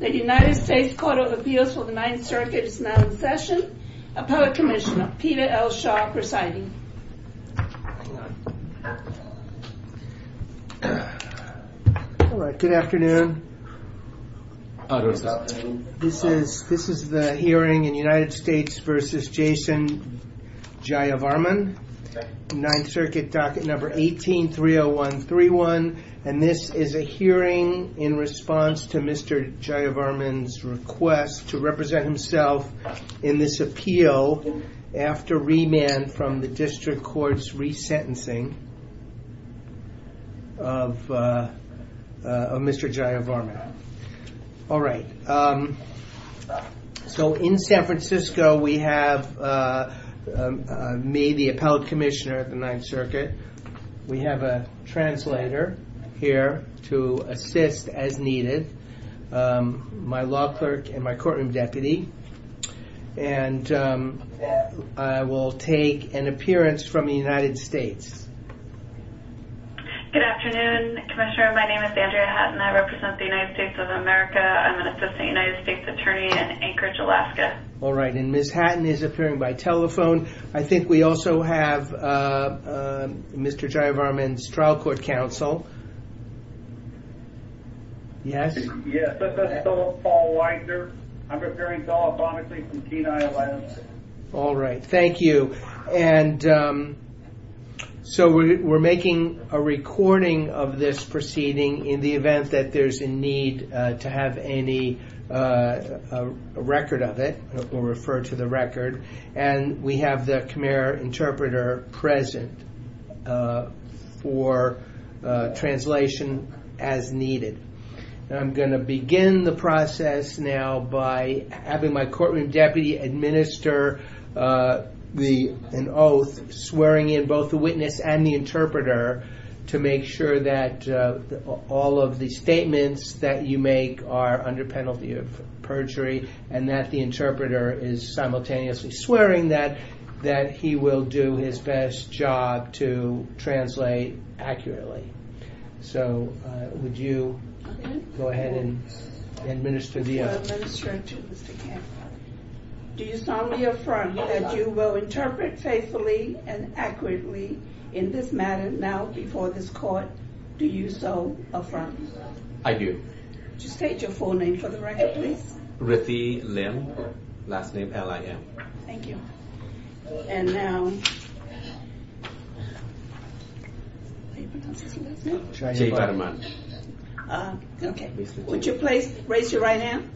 The United States Court of Appeals for the Ninth Circuit is now in session. Appellate Commissioner Peter L. Schock presiding. Good afternoon, this is the hearing in United States v. Jason Jayavarman, Ninth Circuit docket number 18-30131 and this is a hearing in response to Mr. Jayavarman's request to represent himself in this appeal after remand from the district court's resentencing of Mr. Jayavarman. All right, so in San Francisco we have me, the Appellate Commissioner of the Ninth Circuit. We have a translator here to assist as needed, my law clerk and my courtroom deputy and I will take an appearance from the United States. Good afternoon, Commissioner, my name is Andrea Hatton, I represent the United States of America. I'm an assistant United States attorney in Anchorage, Alaska. All right, and Ms. Hatton is appearing by telephone. I think we also have Mr. Jayavarman's trial court counsel. Yes? Yes, this is Paul Weiser, I'm appearing telephonically from Kenai, Alaska. All right, thank you, and so we're making a recording of this proceeding in the event that there's a need to have any record of it, we'll refer to the record, and we have the Khmer interpreter present for translation as needed. And I'm going to begin the process now by having my courtroom deputy administer an oath swearing in both the witness and the interpreter to make sure that all of the statements that you make are under penalty of perjury and that the interpreter is simultaneously swearing that that he will do his best job to translate accurately. So, would you go ahead and administer the oath? I will administer it to Mr. Kenai. Do you solemnly affirm that you will interpret faithfully and accurately in this matter now before this court? Do you so affirm? I do. Would you state your full name for the record, please? Rithi Lim, last name L-I-M. Thank you. And now... Would you please raise your right hand?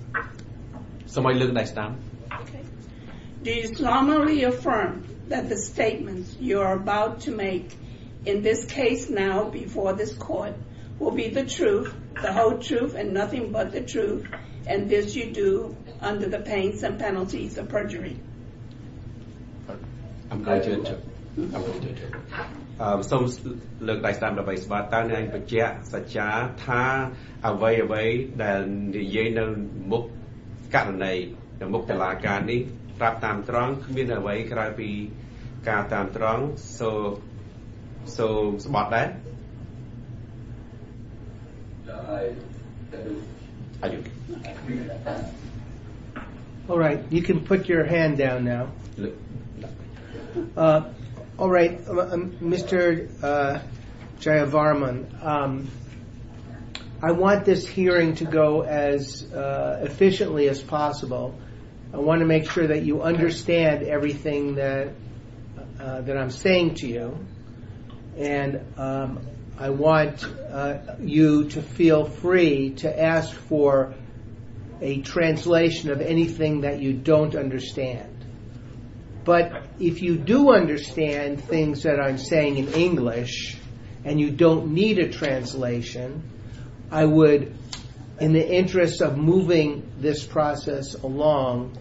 Somebody look next time. Do you solemnly affirm that the statements you are about to make in this case now before this court will be the truth, the whole truth and nothing but the truth, and this you do under the pence and penalties of perjury? I'm going to interpret. I'm going to interpret. Would you please raise your right hand and state that the statements you are about to make in this case will be the truth, the whole truth and nothing but the truth. Do you solemnly affirm that? I do. I do. All right. You can put your hand down now. All right. Mr. Jayavarman, I want this hearing to go as efficiently as possible. I want to make sure that you understand everything that I'm saying to you, and I want you to feel free to ask for a translation of anything that you don't understand. But if you do understand things that I'm saying in English and you don't need a translation, I would, in the interest of moving this process along,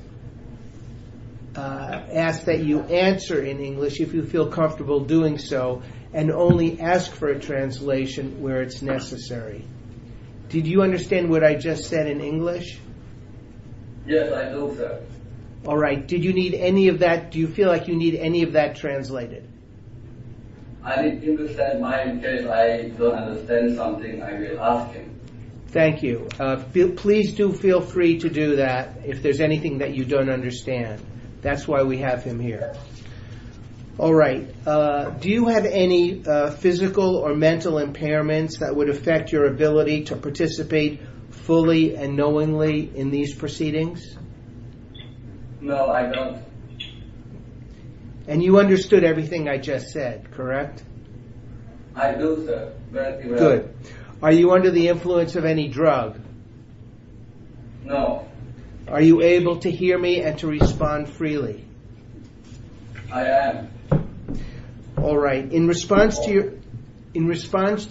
ask that you answer in English if you feel comfortable doing so, and only ask for a translation where it's necessary. Did you understand what I just said in English? Yes, I do, sir. All right. Did you need any of that? Do you feel like you need any of that translated? I need him to stand by in case I don't understand something. I will ask him. Thank you. Please do feel free to do that if there's anything that you don't understand. That's why we have him here. All right. Do you have any physical or mental impairments that would affect your ability to participate fully and knowingly in these proceedings? No, I don't. And you understood everything I just said, correct? I do, sir. Good. Are you under the influence of any drug? No. Are you able to hear me and to respond freely? I am. All right. In response to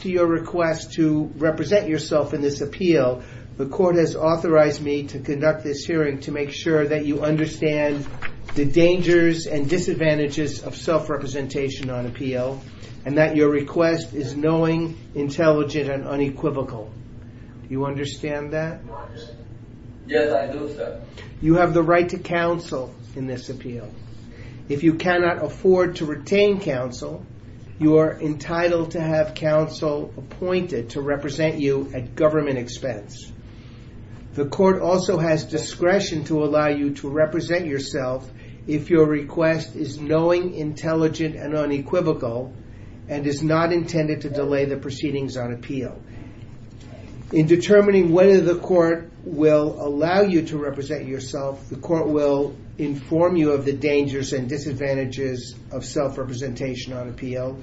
your request to represent yourself in this appeal, the court has authorized me to conduct this hearing to make sure that you understand the dangers and disadvantages of self-representation on appeal, and that your request is knowing, intelligent, and unequivocal. Yes, I do, sir. You have the right to counsel in this appeal. If you cannot afford to retain counsel, you are entitled to have counsel appointed to represent you at government expense. The court also has discretion to allow you to represent yourself if your request is knowing, intelligent, and unequivocal, and is not intended to delay the proceedings on appeal. In determining whether the court will allow you to represent yourself, the court will inform you of the dangers and disadvantages of self-representation on appeal.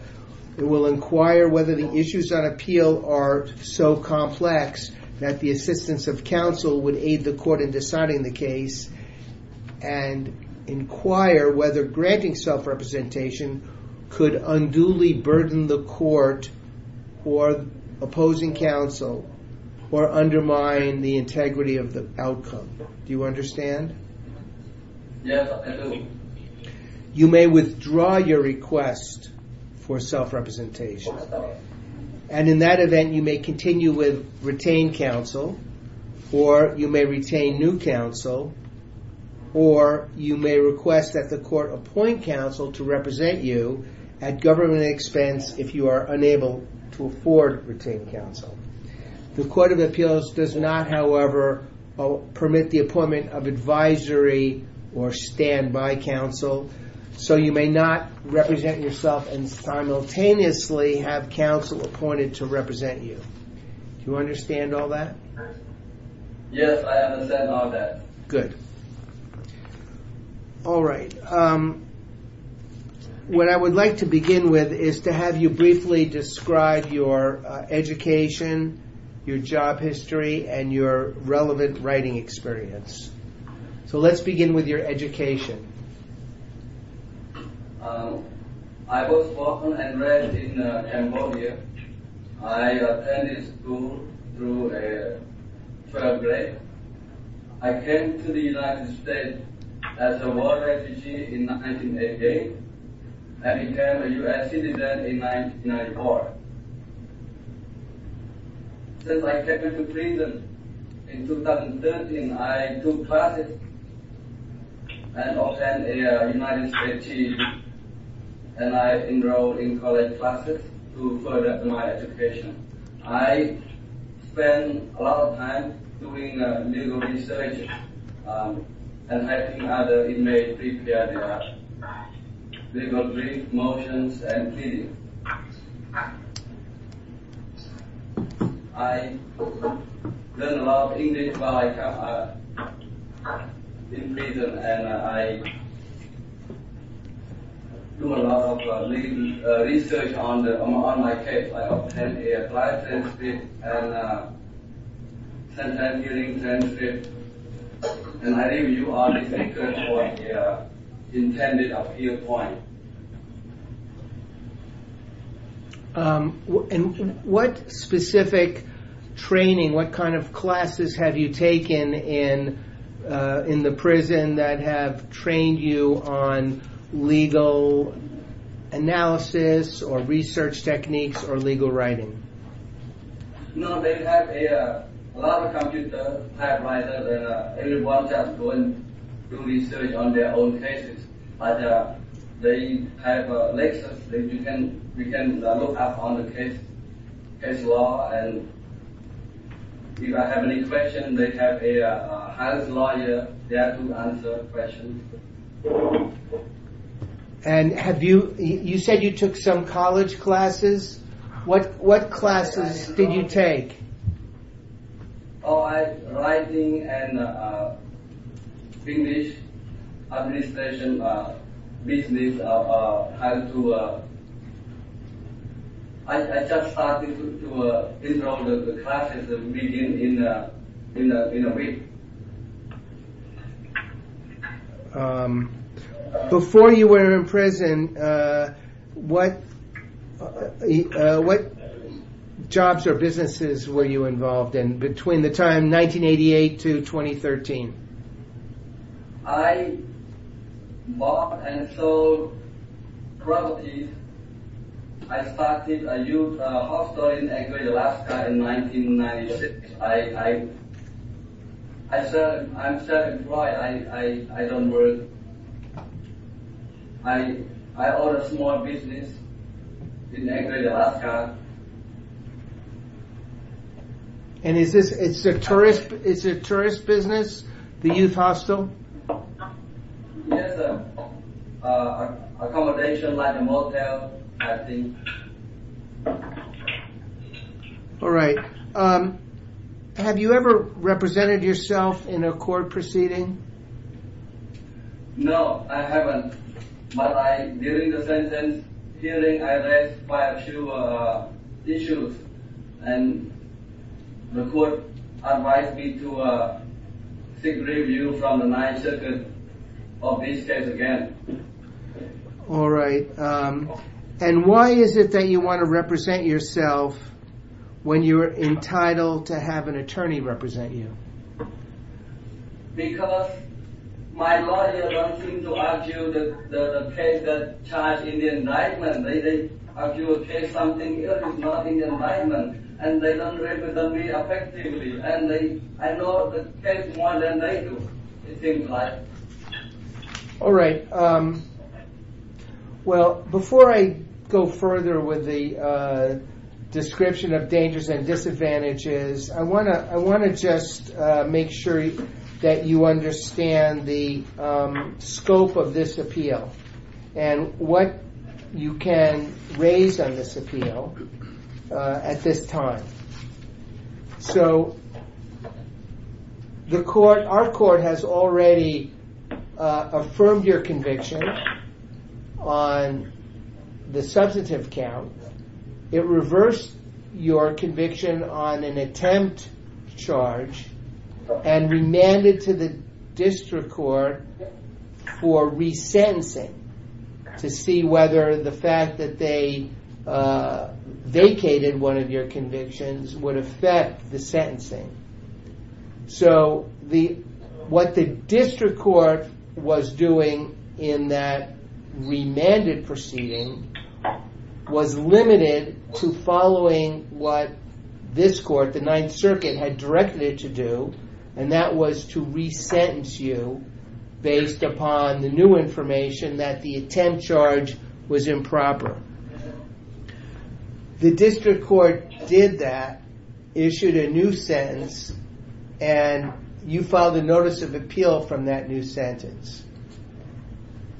It will inquire whether the issues on appeal are so complex that the assistance of counsel would aid the court in deciding the case, and inquire whether granting self-representation could unduly burden the court for opposing counsel or undermine the integrity of the outcome. Do you understand? Yes, I do. You may withdraw your request for self-representation. And in that event, you may continue with retained counsel, or you may retain new counsel, or you may request that the court appoint counsel to represent you at government expense if you are unable to afford retained counsel. The Court of Appeals does not, however, permit the appointment of advisory or standby counsel, so you may not represent yourself and simultaneously have counsel appointed to represent you. Do you understand all that? Yes, I understand all that. Good. All right. What I would like to begin with is to have you briefly describe your education, your job history, and your relevant writing experience. So let's begin with your education. I was born and raised in Cambodia. I attended school through 12th grade. I came to the United States as a war refugee in 1988 and became a U.S. citizen in 1994. Since I came into prison in 2013, I took classes and also a United States team, and I enrolled in college classes to further my education. I spent a lot of time doing legal research and helping other inmates prepare their legal briefs, motions, and pleadings. I learned a lot of English while I was in prison, and I did a lot of research on my case. I have 10 years' life experience and 10 years' hearing experience. And I think you are the speaker for the intended appeal point. And what specific training, what kind of classes have you taken in the prison that have trained you on legal analysis or research techniques or legal writing? No, they have a lot of computer typewriters, and everyone has to go and do research on their own cases. But they have lectures that you can look up on the case law. And if I have any questions, they have a house lawyer there to answer questions. And you said you took some college classes. What classes did you take? Oh, I was writing an English administration business. I just started to enroll in the classes to begin in a week. Before you were in prison, what jobs or businesses were you involved in between the time 1988 to 2013? I bought and sold properties. I started a youth hostel in Greater Alaska in 1996. I'm self-employed. I don't work. I own a small business in Greater Alaska. And is this a tourist business, the youth hostel? Yes, accommodation like a motel, I think. All right. Have you ever represented yourself in a court proceeding? No, I haven't. But during the sentence hearing, I raised quite a few issues. And the court advised me to seek review from the 9th Circuit of this case again. All right. And why is it that you want to represent yourself when you're entitled to have an attorney represent you? Because my lawyers don't seem to argue the case that's charged in the indictment. They argue a case that's not in the indictment. And they don't represent me effectively. And I know the case more than they do, it seems like. All right. Well, before I go further with the description of dangers and disadvantages, I want to just make sure that you understand the scope of this appeal and what you can raise on this appeal at this time. So, our court has already affirmed your conviction on the substantive count. It reversed your conviction on an attempt charge and remanded to the district court for resentencing to see whether the fact that they vacated one of your convictions would affect the sentencing. So, what the district court was doing in that remanded proceeding was limited to following what this court, the 9th Circuit, had directed it to do. And that was to resentence you based upon the new information that the attempt charge was improper. The district court did that, issued a new sentence, and you filed a notice of appeal from that new sentence.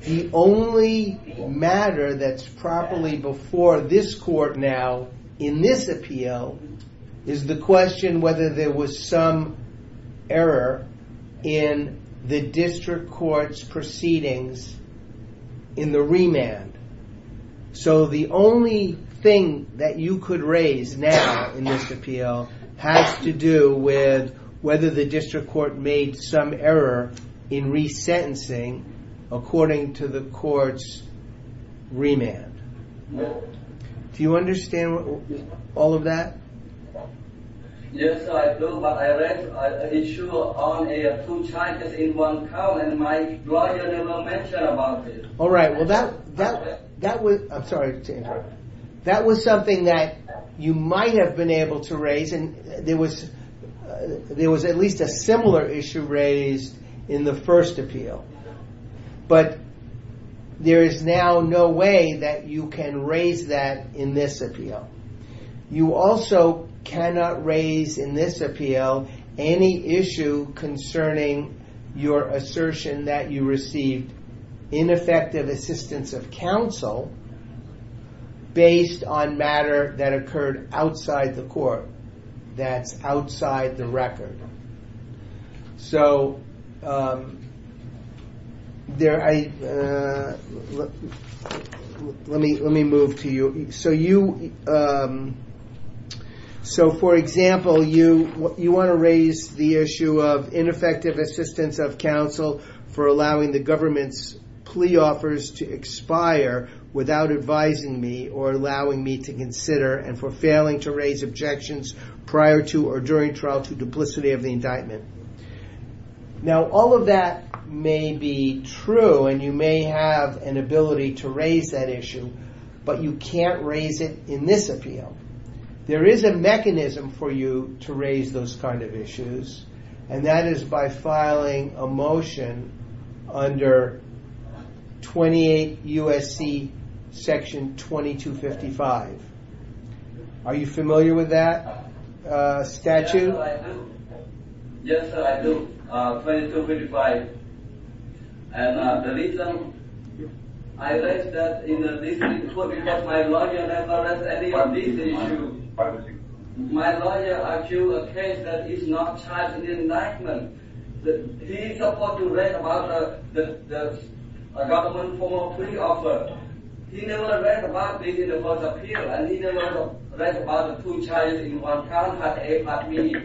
The only matter that's properly before this court now in this appeal is the question whether there was some error in the district court's proceedings in the remand. So, the only thing that you could raise now in this appeal has to do with whether the district court made some error in resentencing according to the court's remand. Do you understand all of that? Yes, I do, but I read an issue on two charges in one count and my lawyer never mentioned about it. All right, well, that was... I'm sorry. That was something that you might have been able to raise and there was at least a similar issue raised in the first appeal. But there is now no way that you can raise that in this appeal. You also cannot raise in this appeal any issue concerning your assertion that you received ineffective assistance of counsel based on matter that occurred outside the court, that's outside the record. So, let me move to you. So, for example, you want to raise the issue of ineffective assistance of counsel for allowing the government's plea offers to expire without advising me or allowing me to consider and for failing to raise objections prior to or during trial to duplicity of the indictment. Now, all of that may be true and you may have an ability to raise that issue, but you can't raise it in this appeal. There is a mechanism for you to raise those kind of issues and that is by filing a motion under 28 USC section 2255. Are you familiar with that statute? Yes, sir, I do. 2255. And the reason I raised that in this report because my lawyer never raised any of these issues. My lawyer argued a case that is not charged in indictment. He is supposed to raise about the government's formal plea offer. He never raised about this in the court appeal and he never raised about the two charges in one count as a part of me.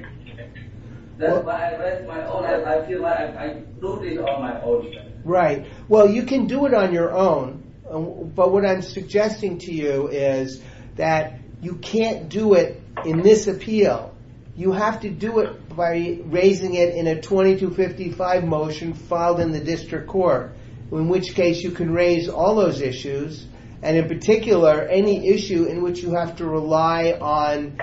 That's why I raised my own and I feel like I do this on my own. Right. Well, you can do it on your own, but what I'm suggesting to you is that you can't do it in this appeal. You have to do it by raising it in a 2255 motion filed in the district court, in which case you can raise all those issues. And in particular, any issue in which you have to rely on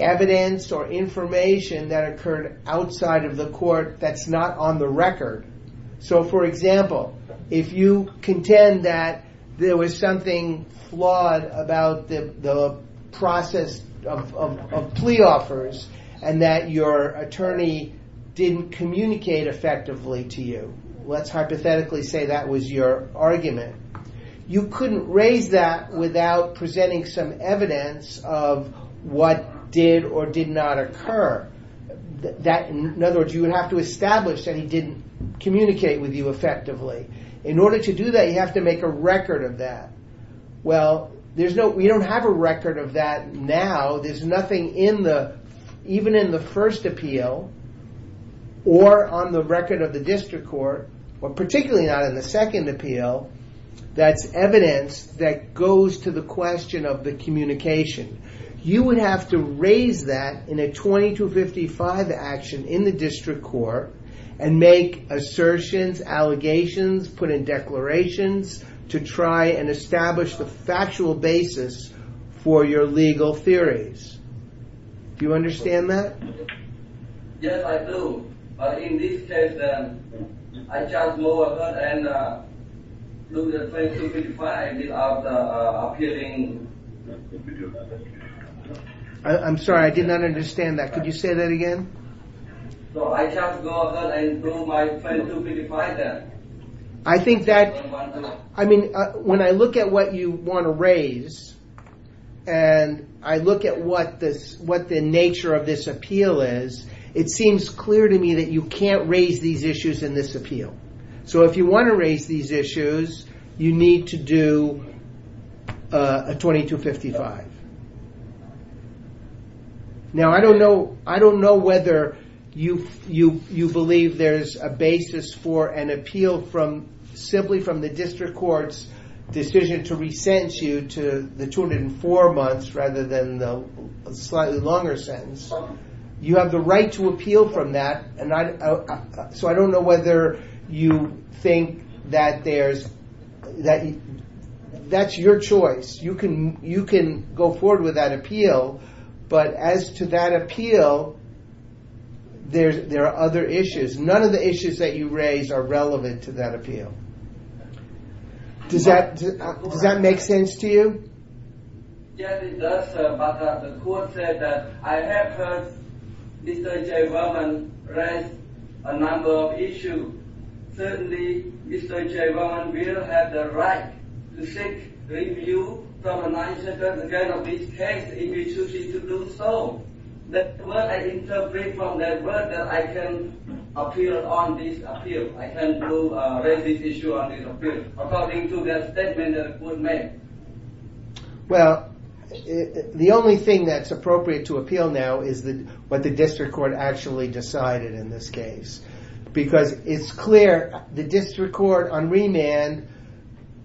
evidence or information that occurred outside of the court that's not on the record. So, for example, if you contend that there was something flawed about the process of plea offers and that your attorney didn't communicate effectively to you. Let's hypothetically say that was your argument. You couldn't raise that without presenting some evidence of what did or did not occur. In other words, you would have to establish that he didn't communicate with you effectively. In order to do that, you have to make a record of that. Well, we don't have a record of that now. There's nothing even in the first appeal or on the record of the district court, or particularly not in the second appeal, that's evidence that goes to the question of the communication. You would have to raise that in a 2255 action in the district court and make assertions, allegations, put in declarations to try and establish the factual basis for your legal theories. Do you understand that? Yes, I do. But in this case, I just go ahead and look at 2255 after appealing. I'm sorry, I did not understand that. Could you say that again? So, I just go ahead and do my 2255 then. I think that, I mean, when I look at what you want to raise and I look at what the nature of this appeal is, it seems clear to me that you can't raise these issues in this appeal. So, if you want to raise these issues, you need to do a 2255. Now, I don't know whether you believe there's a basis for an appeal simply from the district court's decision to resent you to the 204 months rather than the slightly longer sentence. You have the right to appeal from that. So, I don't know whether you think that that's your choice. You can go forward with that appeal. But as to that appeal, there are other issues. None of the issues that you raise are relevant to that appeal. Does that make sense to you? Yes, it does, sir. But the court said that I have heard Mr. Jayvon raise a number of issues. Certainly, Mr. Jayvon will have the right to seek review from the 9th Circuit again on this case if he chooses to do so. That's what I interpret from that word that I can appeal on this appeal. I can raise this issue on this appeal according to the statement that was made. Well, the only thing that's appropriate to appeal now is what the district court actually decided in this case. Because it's clear the district court on remand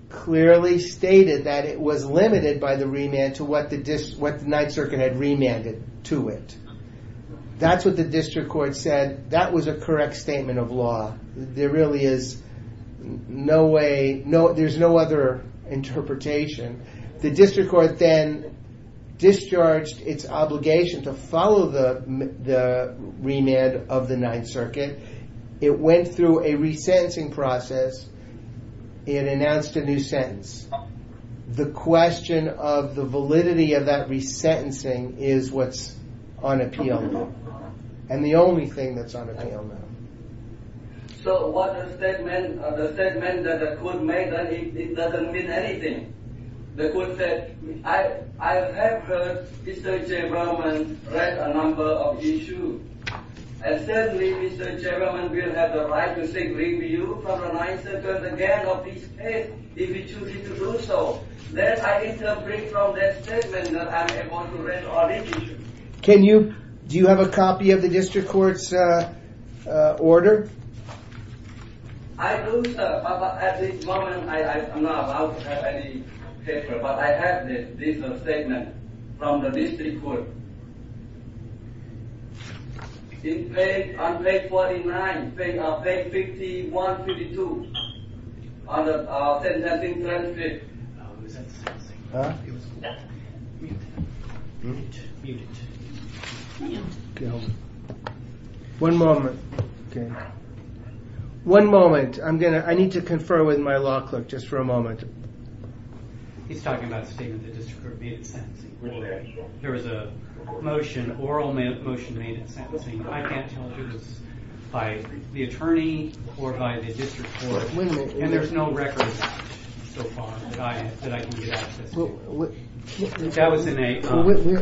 clearly stated that it was limited by the remand to what the 9th Circuit had remanded to it. That's what the district court said. That was a correct statement of law. There really is no way. There's no other interpretation. The district court then discharged its obligation to follow the remand of the 9th Circuit. It went through a resentencing process. It announced a new sentence. The question of the validity of that resentencing is what's on appeal now. And the only thing that's on appeal now. So what the statement that the court made, it doesn't mean anything. The court said, I have heard Mr. Chamberlain raise a number of issues. And certainly Mr. Chamberlain will have the right to seek review from the 9th Circuit again of this case if he chooses to do so. Then I interpret from that statement that I'm able to raise all these issues. Do you have a copy of the district court's order? I do, sir. At this moment, I'm not allowed to have any paper. But I have this statement from the district court. On page 49, page 51, 52, on the resentencing transcript. Resentencing. Huh? Mute. Mute. Mute it. Mute. Okay, hold on. One moment. Okay. One moment. I need to confer with my law clerk just for a moment. He's talking about the statement the district court made in sentencing. There was a motion, oral motion made in sentencing. I can't tell if it was by the attorney or by the district court. And there's no record so far that I can get access to. That was in a-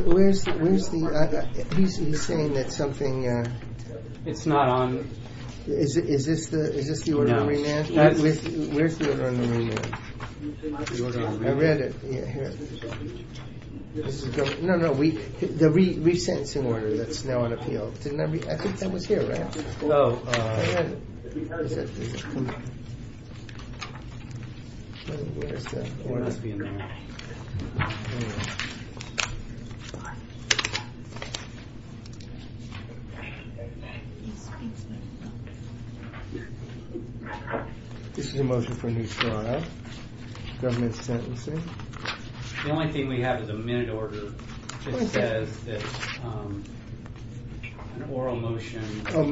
Where's the- He's saying that something- It's not on- Is this the order of remand? Where's the order of remand? I read it. No, no. The resentencing order that's now on appeal. I think that was here, right? I read it. Is it? Where's the order? It must be in there. This is a motion for a new trial. Government sentencing. The only thing we have is a minute order. It says that an oral motion- Oh,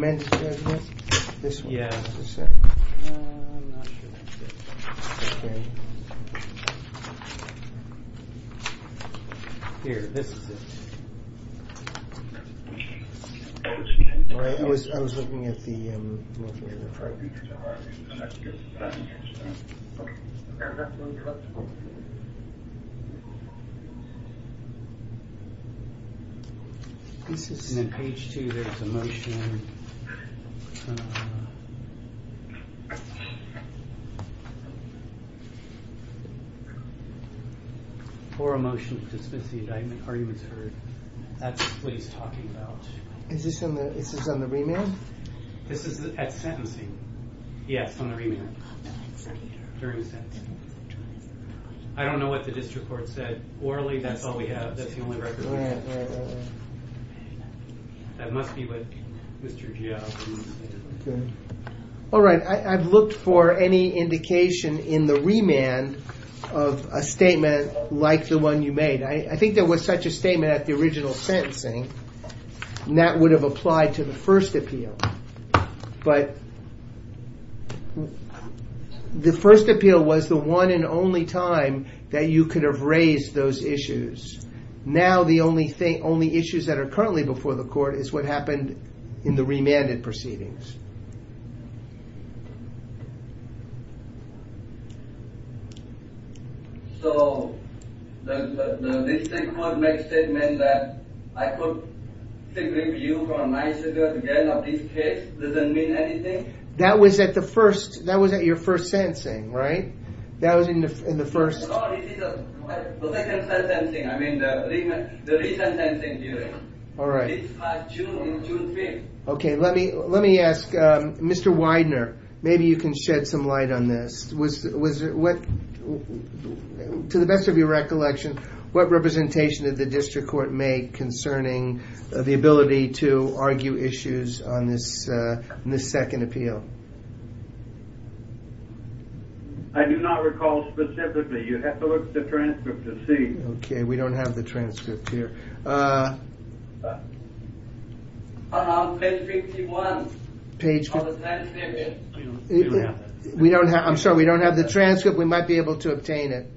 this one? Yeah. Is this it? I'm not sure that's it. Okay. Here, this is it. I was looking at the- And then page two, there's a motion. It's kind of- Or a motion to dismiss the indictment. Arguments heard. That's what he's talking about. Is this on the remand? This is at sentencing. Yes, on the remand. During the sentencing. I don't know what the district court said. Orally, that's all we have. That's the only record we have. Yeah, yeah, yeah. That must be what Mr. Giao- Okay. All right, I've looked for any indication in the remand of a statement like the one you made. I think there was such a statement at the original sentencing and that would have applied to the first appeal. But the first appeal was the one and only time that you could have raised those issues. Now, the only issues that are currently before the court is what happened in the remanded proceedings. So, the district court made a statement that I could take review from nine years ago to get another case, doesn't mean anything? That was at the first- That was at your first sentencing, right? That was in the first- No, this is the second sentencing. I mean, the recent sentencing hearing. All right. It's June 3rd. Okay, let me ask, Mr. Widener, maybe you can shed some light on this. To the best of your recollection, what representation did the district court make concerning the ability to argue issues on this second appeal? I do not recall specifically. You'd have to look at the transcript to see. Okay, we don't have the transcript here. Page 51. Page- Oh, it's not in there yet. We don't have it. I'm sorry, we don't have the transcript. We might be able to obtain it.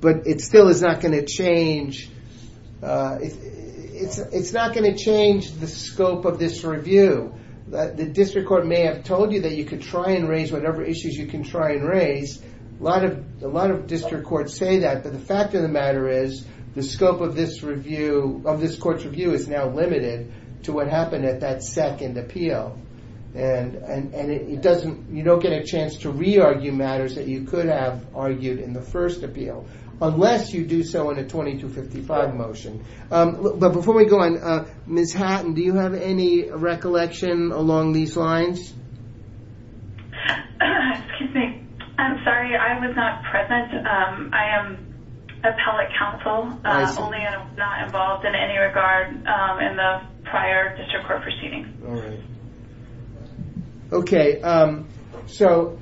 But it still is not going to change. It's not going to change the scope of this review. The district court may have told you that you could try and raise whatever issues you can try and raise. A lot of district courts say that, but the fact of the matter is the scope of this court's review is now limited to what happened at that second appeal. And you don't get a chance to re-argue matters that you could have argued in the first appeal, unless you do so in a 2255 motion. But before we go on, Ms. Hatton, do you have any recollection along these lines? Excuse me. I'm sorry, I was not present. I am appellate counsel, only not involved in any regard in the prior district court proceedings. All right. Okay. So,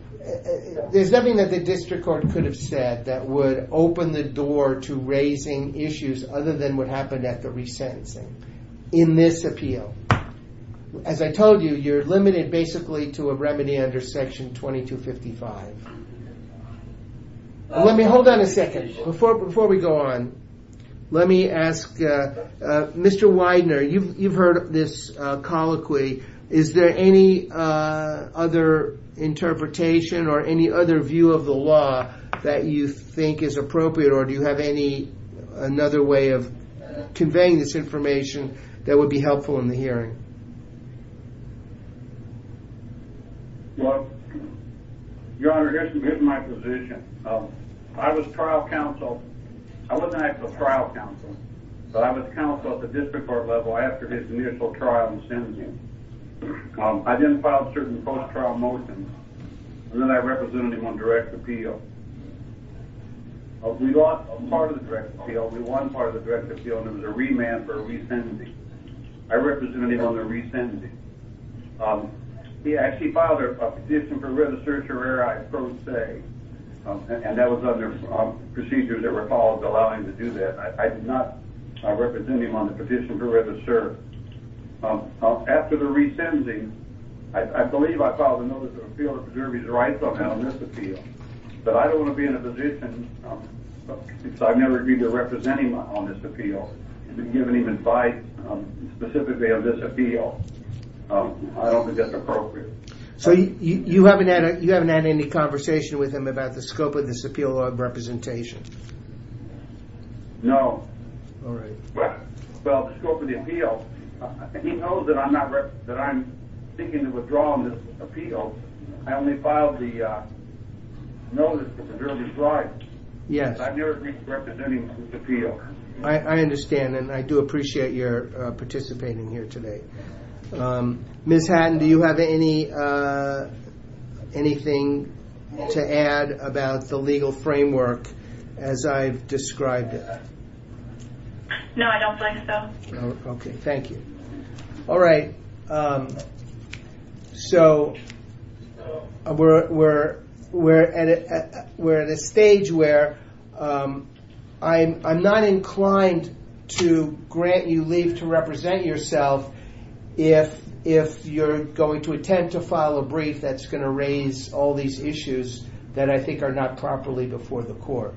there's nothing that the district court could have said that would open the door to raising issues other than what happened at the resentencing. In this appeal. As I told you, you're limited basically to a remedy under section 2255. Let me, hold on a second. Before we go on, let me ask Mr. Widener, you've heard this colloquy. Is there any other interpretation or any other view of the law that you think is appropriate or do you have any, another way of conveying this information that would be helpful in the hearing? Well, your honor, here's my position. I was trial counsel. I wasn't actually trial counsel, but I was counsel at the district court level after his initial trial in sentencing. I then filed certain post-trial motions and then I represented him on direct appeal. We lost a part of the direct appeal. We won part of the direct appeal and it was a remand for resentencing. I represented him on the resentencing. He actually filed a petition for red assertion where I pro se, and that was under procedures that were called to allow him to do that. I did not represent him on the petition for red assert. After the resentencing, I believe I filed a notice of appeal to preserve his rights on this appeal. But I don't want to be in a position, so I never agreed to represent him on this appeal. I didn't give him an invite specifically on this appeal. I don't think that's appropriate. So you haven't had any conversation with him about the scope of this appeal or representation? No. All right. Well, the scope of the appeal, he knows that I'm not, that I'm seeking to withdraw on this appeal. I only filed the notice to preserve his rights. Yes. I never agreed to represent him on this appeal. I understand, and I do appreciate your participating here today. Ms. Hatton, do you have anything to add about the legal framework as I've described it? No, I don't think so. Okay, thank you. All right. So, we're at a stage where I'm not inclined to grant you leave to represent yourself if you're going to attempt to file a brief that's going to raise all these issues that I think are not properly before the court.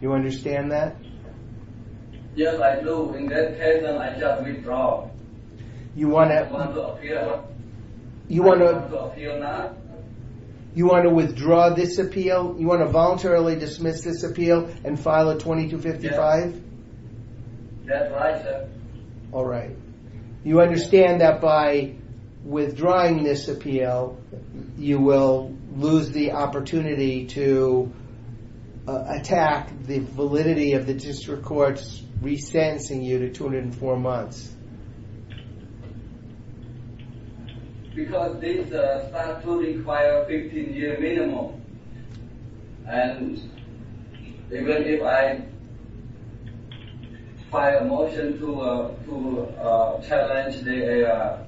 You understand that? Yes, I do. In that case, I just withdraw. You want to... I want to appeal. You want to... I want to appeal now. You want to withdraw this appeal? You want to voluntarily dismiss this appeal and file a 2255? Yes. That's right, sir. All right. You understand that by withdrawing this appeal, you will lose the opportunity to attack the validity of the district court's extension year to 204 months. Because this statute requires a 15-year minimum. And even if I file a motion to challenge their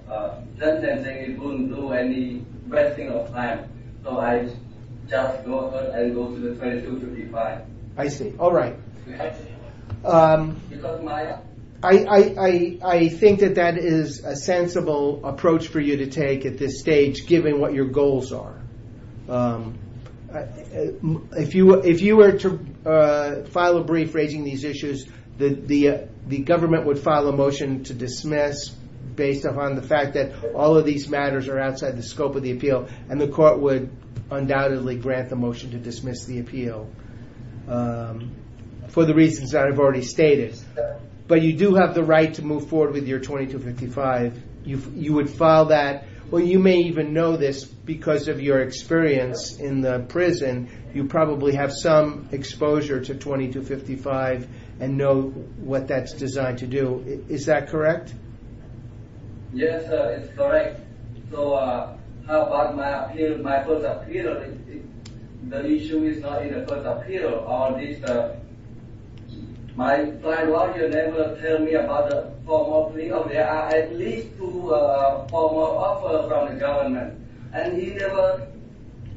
sentencing, it wouldn't do any wasting of time. So I just go ahead and go to the 2255. I see. All right. Because my... I think that that is a sensible approach for you to take at this stage given what your goals are. If you were to file a brief raising these issues, the government would file a motion to dismiss based upon the fact that all of these matters are outside the scope of the appeal and the court would undoubtedly grant the motion to dismiss the appeal. For the reasons that I've already stated. But you do have the right to move forward with your 2255. You would file that. Well, you may even know this because of your experience in the prison. You probably have some exposure to 2255 and know what that's designed to do. Is that correct? Yes, sir. It's correct. So how about my appeal, my first appeal? The issue is not in the first appeal. My trial lawyer never told me about the formal... at least two formal offers from the government. And he never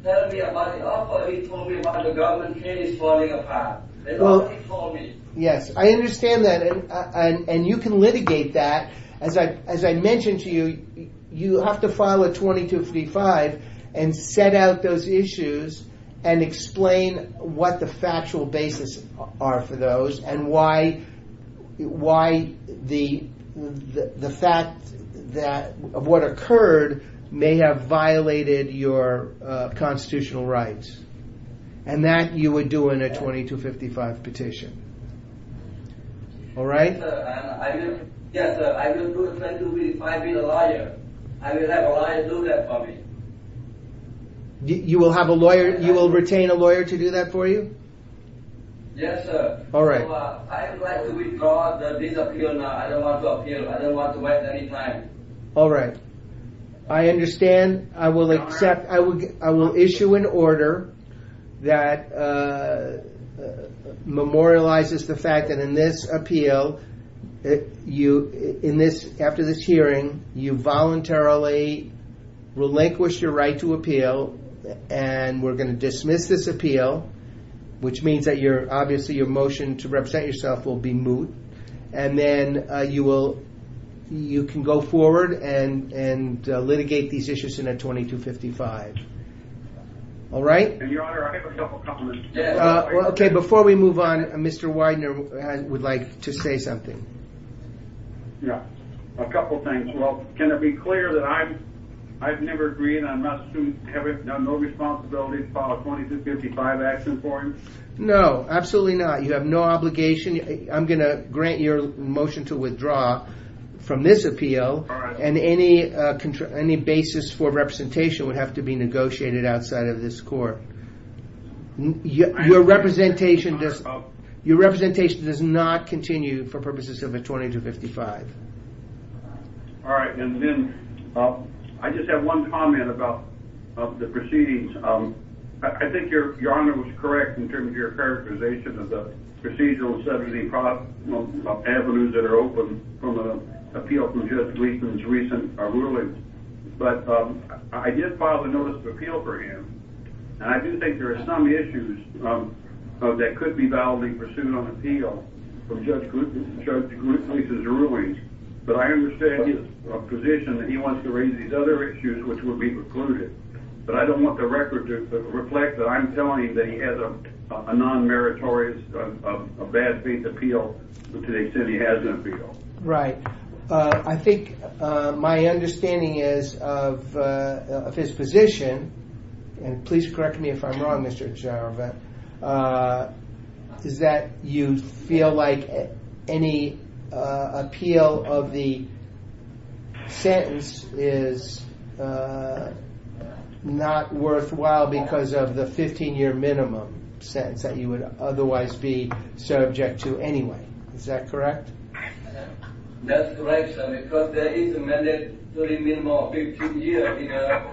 told me about the offer. He told me about the government case falling apart. Yes, I understand that. And you can litigate that. As I mentioned to you, you have to file a 2255 and set out those issues and explain what the factual basis are for those and why the fact that of what occurred may have violated your constitutional rights. And that you would do in a 2255 petition. All right? Yes, sir. I will do 2255 being a lawyer. I will have a lawyer do that for me. You will have a lawyer... You will retain a lawyer to do that for you? Yes, sir. All right. I would like to withdraw this appeal now. I don't want to appeal. I don't want to wait any time. All right. I understand. I will accept... I will issue an order that memorializes the fact that in this appeal you... in this... after this hearing you voluntarily relinquish your right to appeal and we're going to dismiss this appeal which means that your... obviously your motion to represent yourself will be moot. And then you will... you can go forward and litigate these issues in a 2255. All right? Your Honor, I have a couple of comments. Okay. Before we move on, Mr. Widener would like to say something. Yes. A couple of things. Well, can it be clear that I've... I've never agreed, I'm not... have I done no responsibility to file a 2255 action for him? No, absolutely not. You have no obligation. I'm going to grant your motion to withdraw from this appeal. All right. And any basis for representation would have to be negotiated outside of this court. Your representation does... Your representation does not continue for purposes of a 2255. All right. And then I just have one comment about the proceedings. I think your... Your Honor was correct in terms of your characterization of the procedural severity avenues that are open from an appeal from Judge Gleeson's recent ruling. But I did file a notice of appeal for him. that could be validly pursued on appeal from Judge Gleeson's ruling. But I understand his position that he wants to raise these other issues which would be precluded. But I don't want the record to reflect that I'm telling him that he has a non-meritorious, a bad faith appeal to the extent he has an appeal. Right. I think my understanding is of his position, and please correct me if I'm wrong, Mr. Girovant, is that you feel like any appeal of the sentence is not worthwhile because of the 15-year minimum sentence that you would otherwise be subject to anyway. Is that correct? That's correct, sir, because there is a mandatory minimum of 15 years because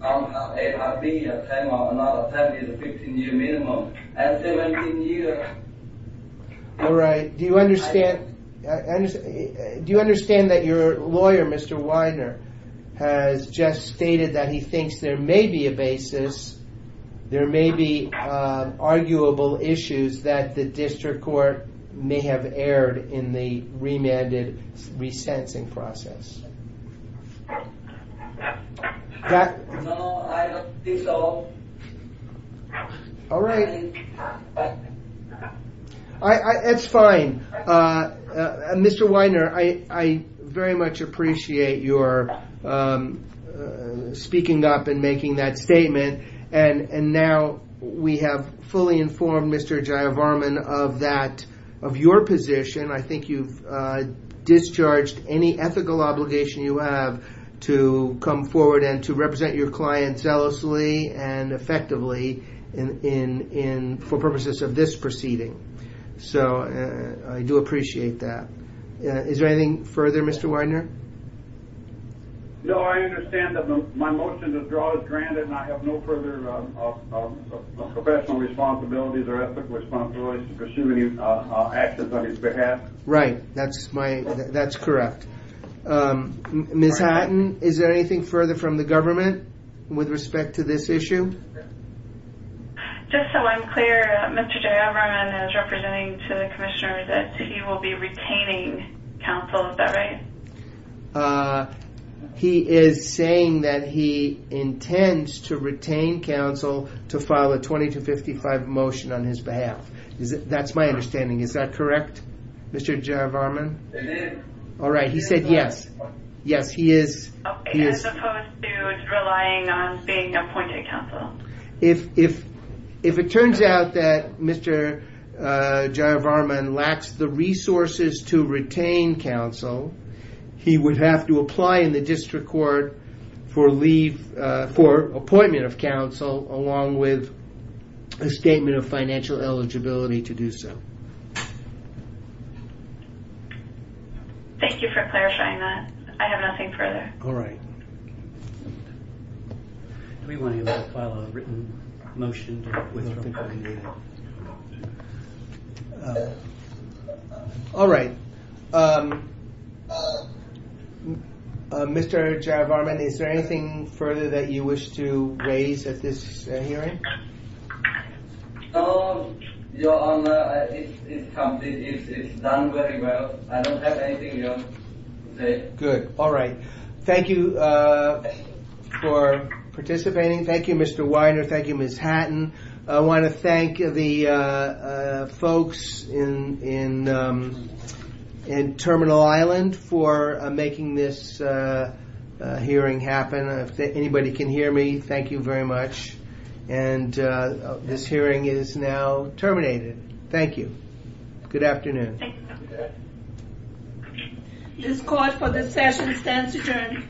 somehow it has been a time of another 15-year minimum. And 17 years Alright. Do you understand Do you understand that your lawyer, Mr. Weiner, has just stated that he thinks there may be a basis, there may be arguable issues that the district court may have aired in the remanded re-sensing process? No, I don't think so. Alright. That's fine. Mr. Weiner, I very much appreciate your speaking up and making that statement, and now we have fully informed Mr. Girovant of that, of your position. I think you've discharged any ethical obligation you have to come forward and to represent your client zealously and effectively for purposes of this proceeding. So, I do appreciate that. Is there anything further, Mr. Weiner? No, I understand that my motion to withdraw is granted and I have no further professional responsibilities or ethical responsibilities to pursue any actions on his behalf. Right. That's correct. Ms. Hatton, is there anything further from the government with respect to this issue? Just so I'm clear, Mr. Girovant is representing to the Commissioner that he will be retaining counsel. Is that right? He is saying that he intends to retain counsel to file a 2255 motion on his behalf. That's my understanding. Is that correct, Mr. Girovant? It is. Alright, he said yes. Yes, he is. Okay, as opposed to relying on being appointed counsel? If it turns out that Mr. Girovant lacks the resources to retain counsel, he would have to apply in the District Court for appointment of counsel along with a statement of financial eligibility to do so. Thank you for clarifying that. I have nothing further. Alright. Do we want to file a written motion? Alright. Mr. Girovant, is there anything further that you wish to raise at this hearing? No, Your Honor. It's done very well. I don't have anything else to say. Good, alright. Thank you for participating. Thank you, Mr. Weiner. Thank you, Ms. Hatton. I want to thank the folks in Terminal Island for making this hearing happen. If anybody can hear me, thank you very much. And this hearing is now terminated. Thank you. Good afternoon. This Court, for this session, stands adjourned.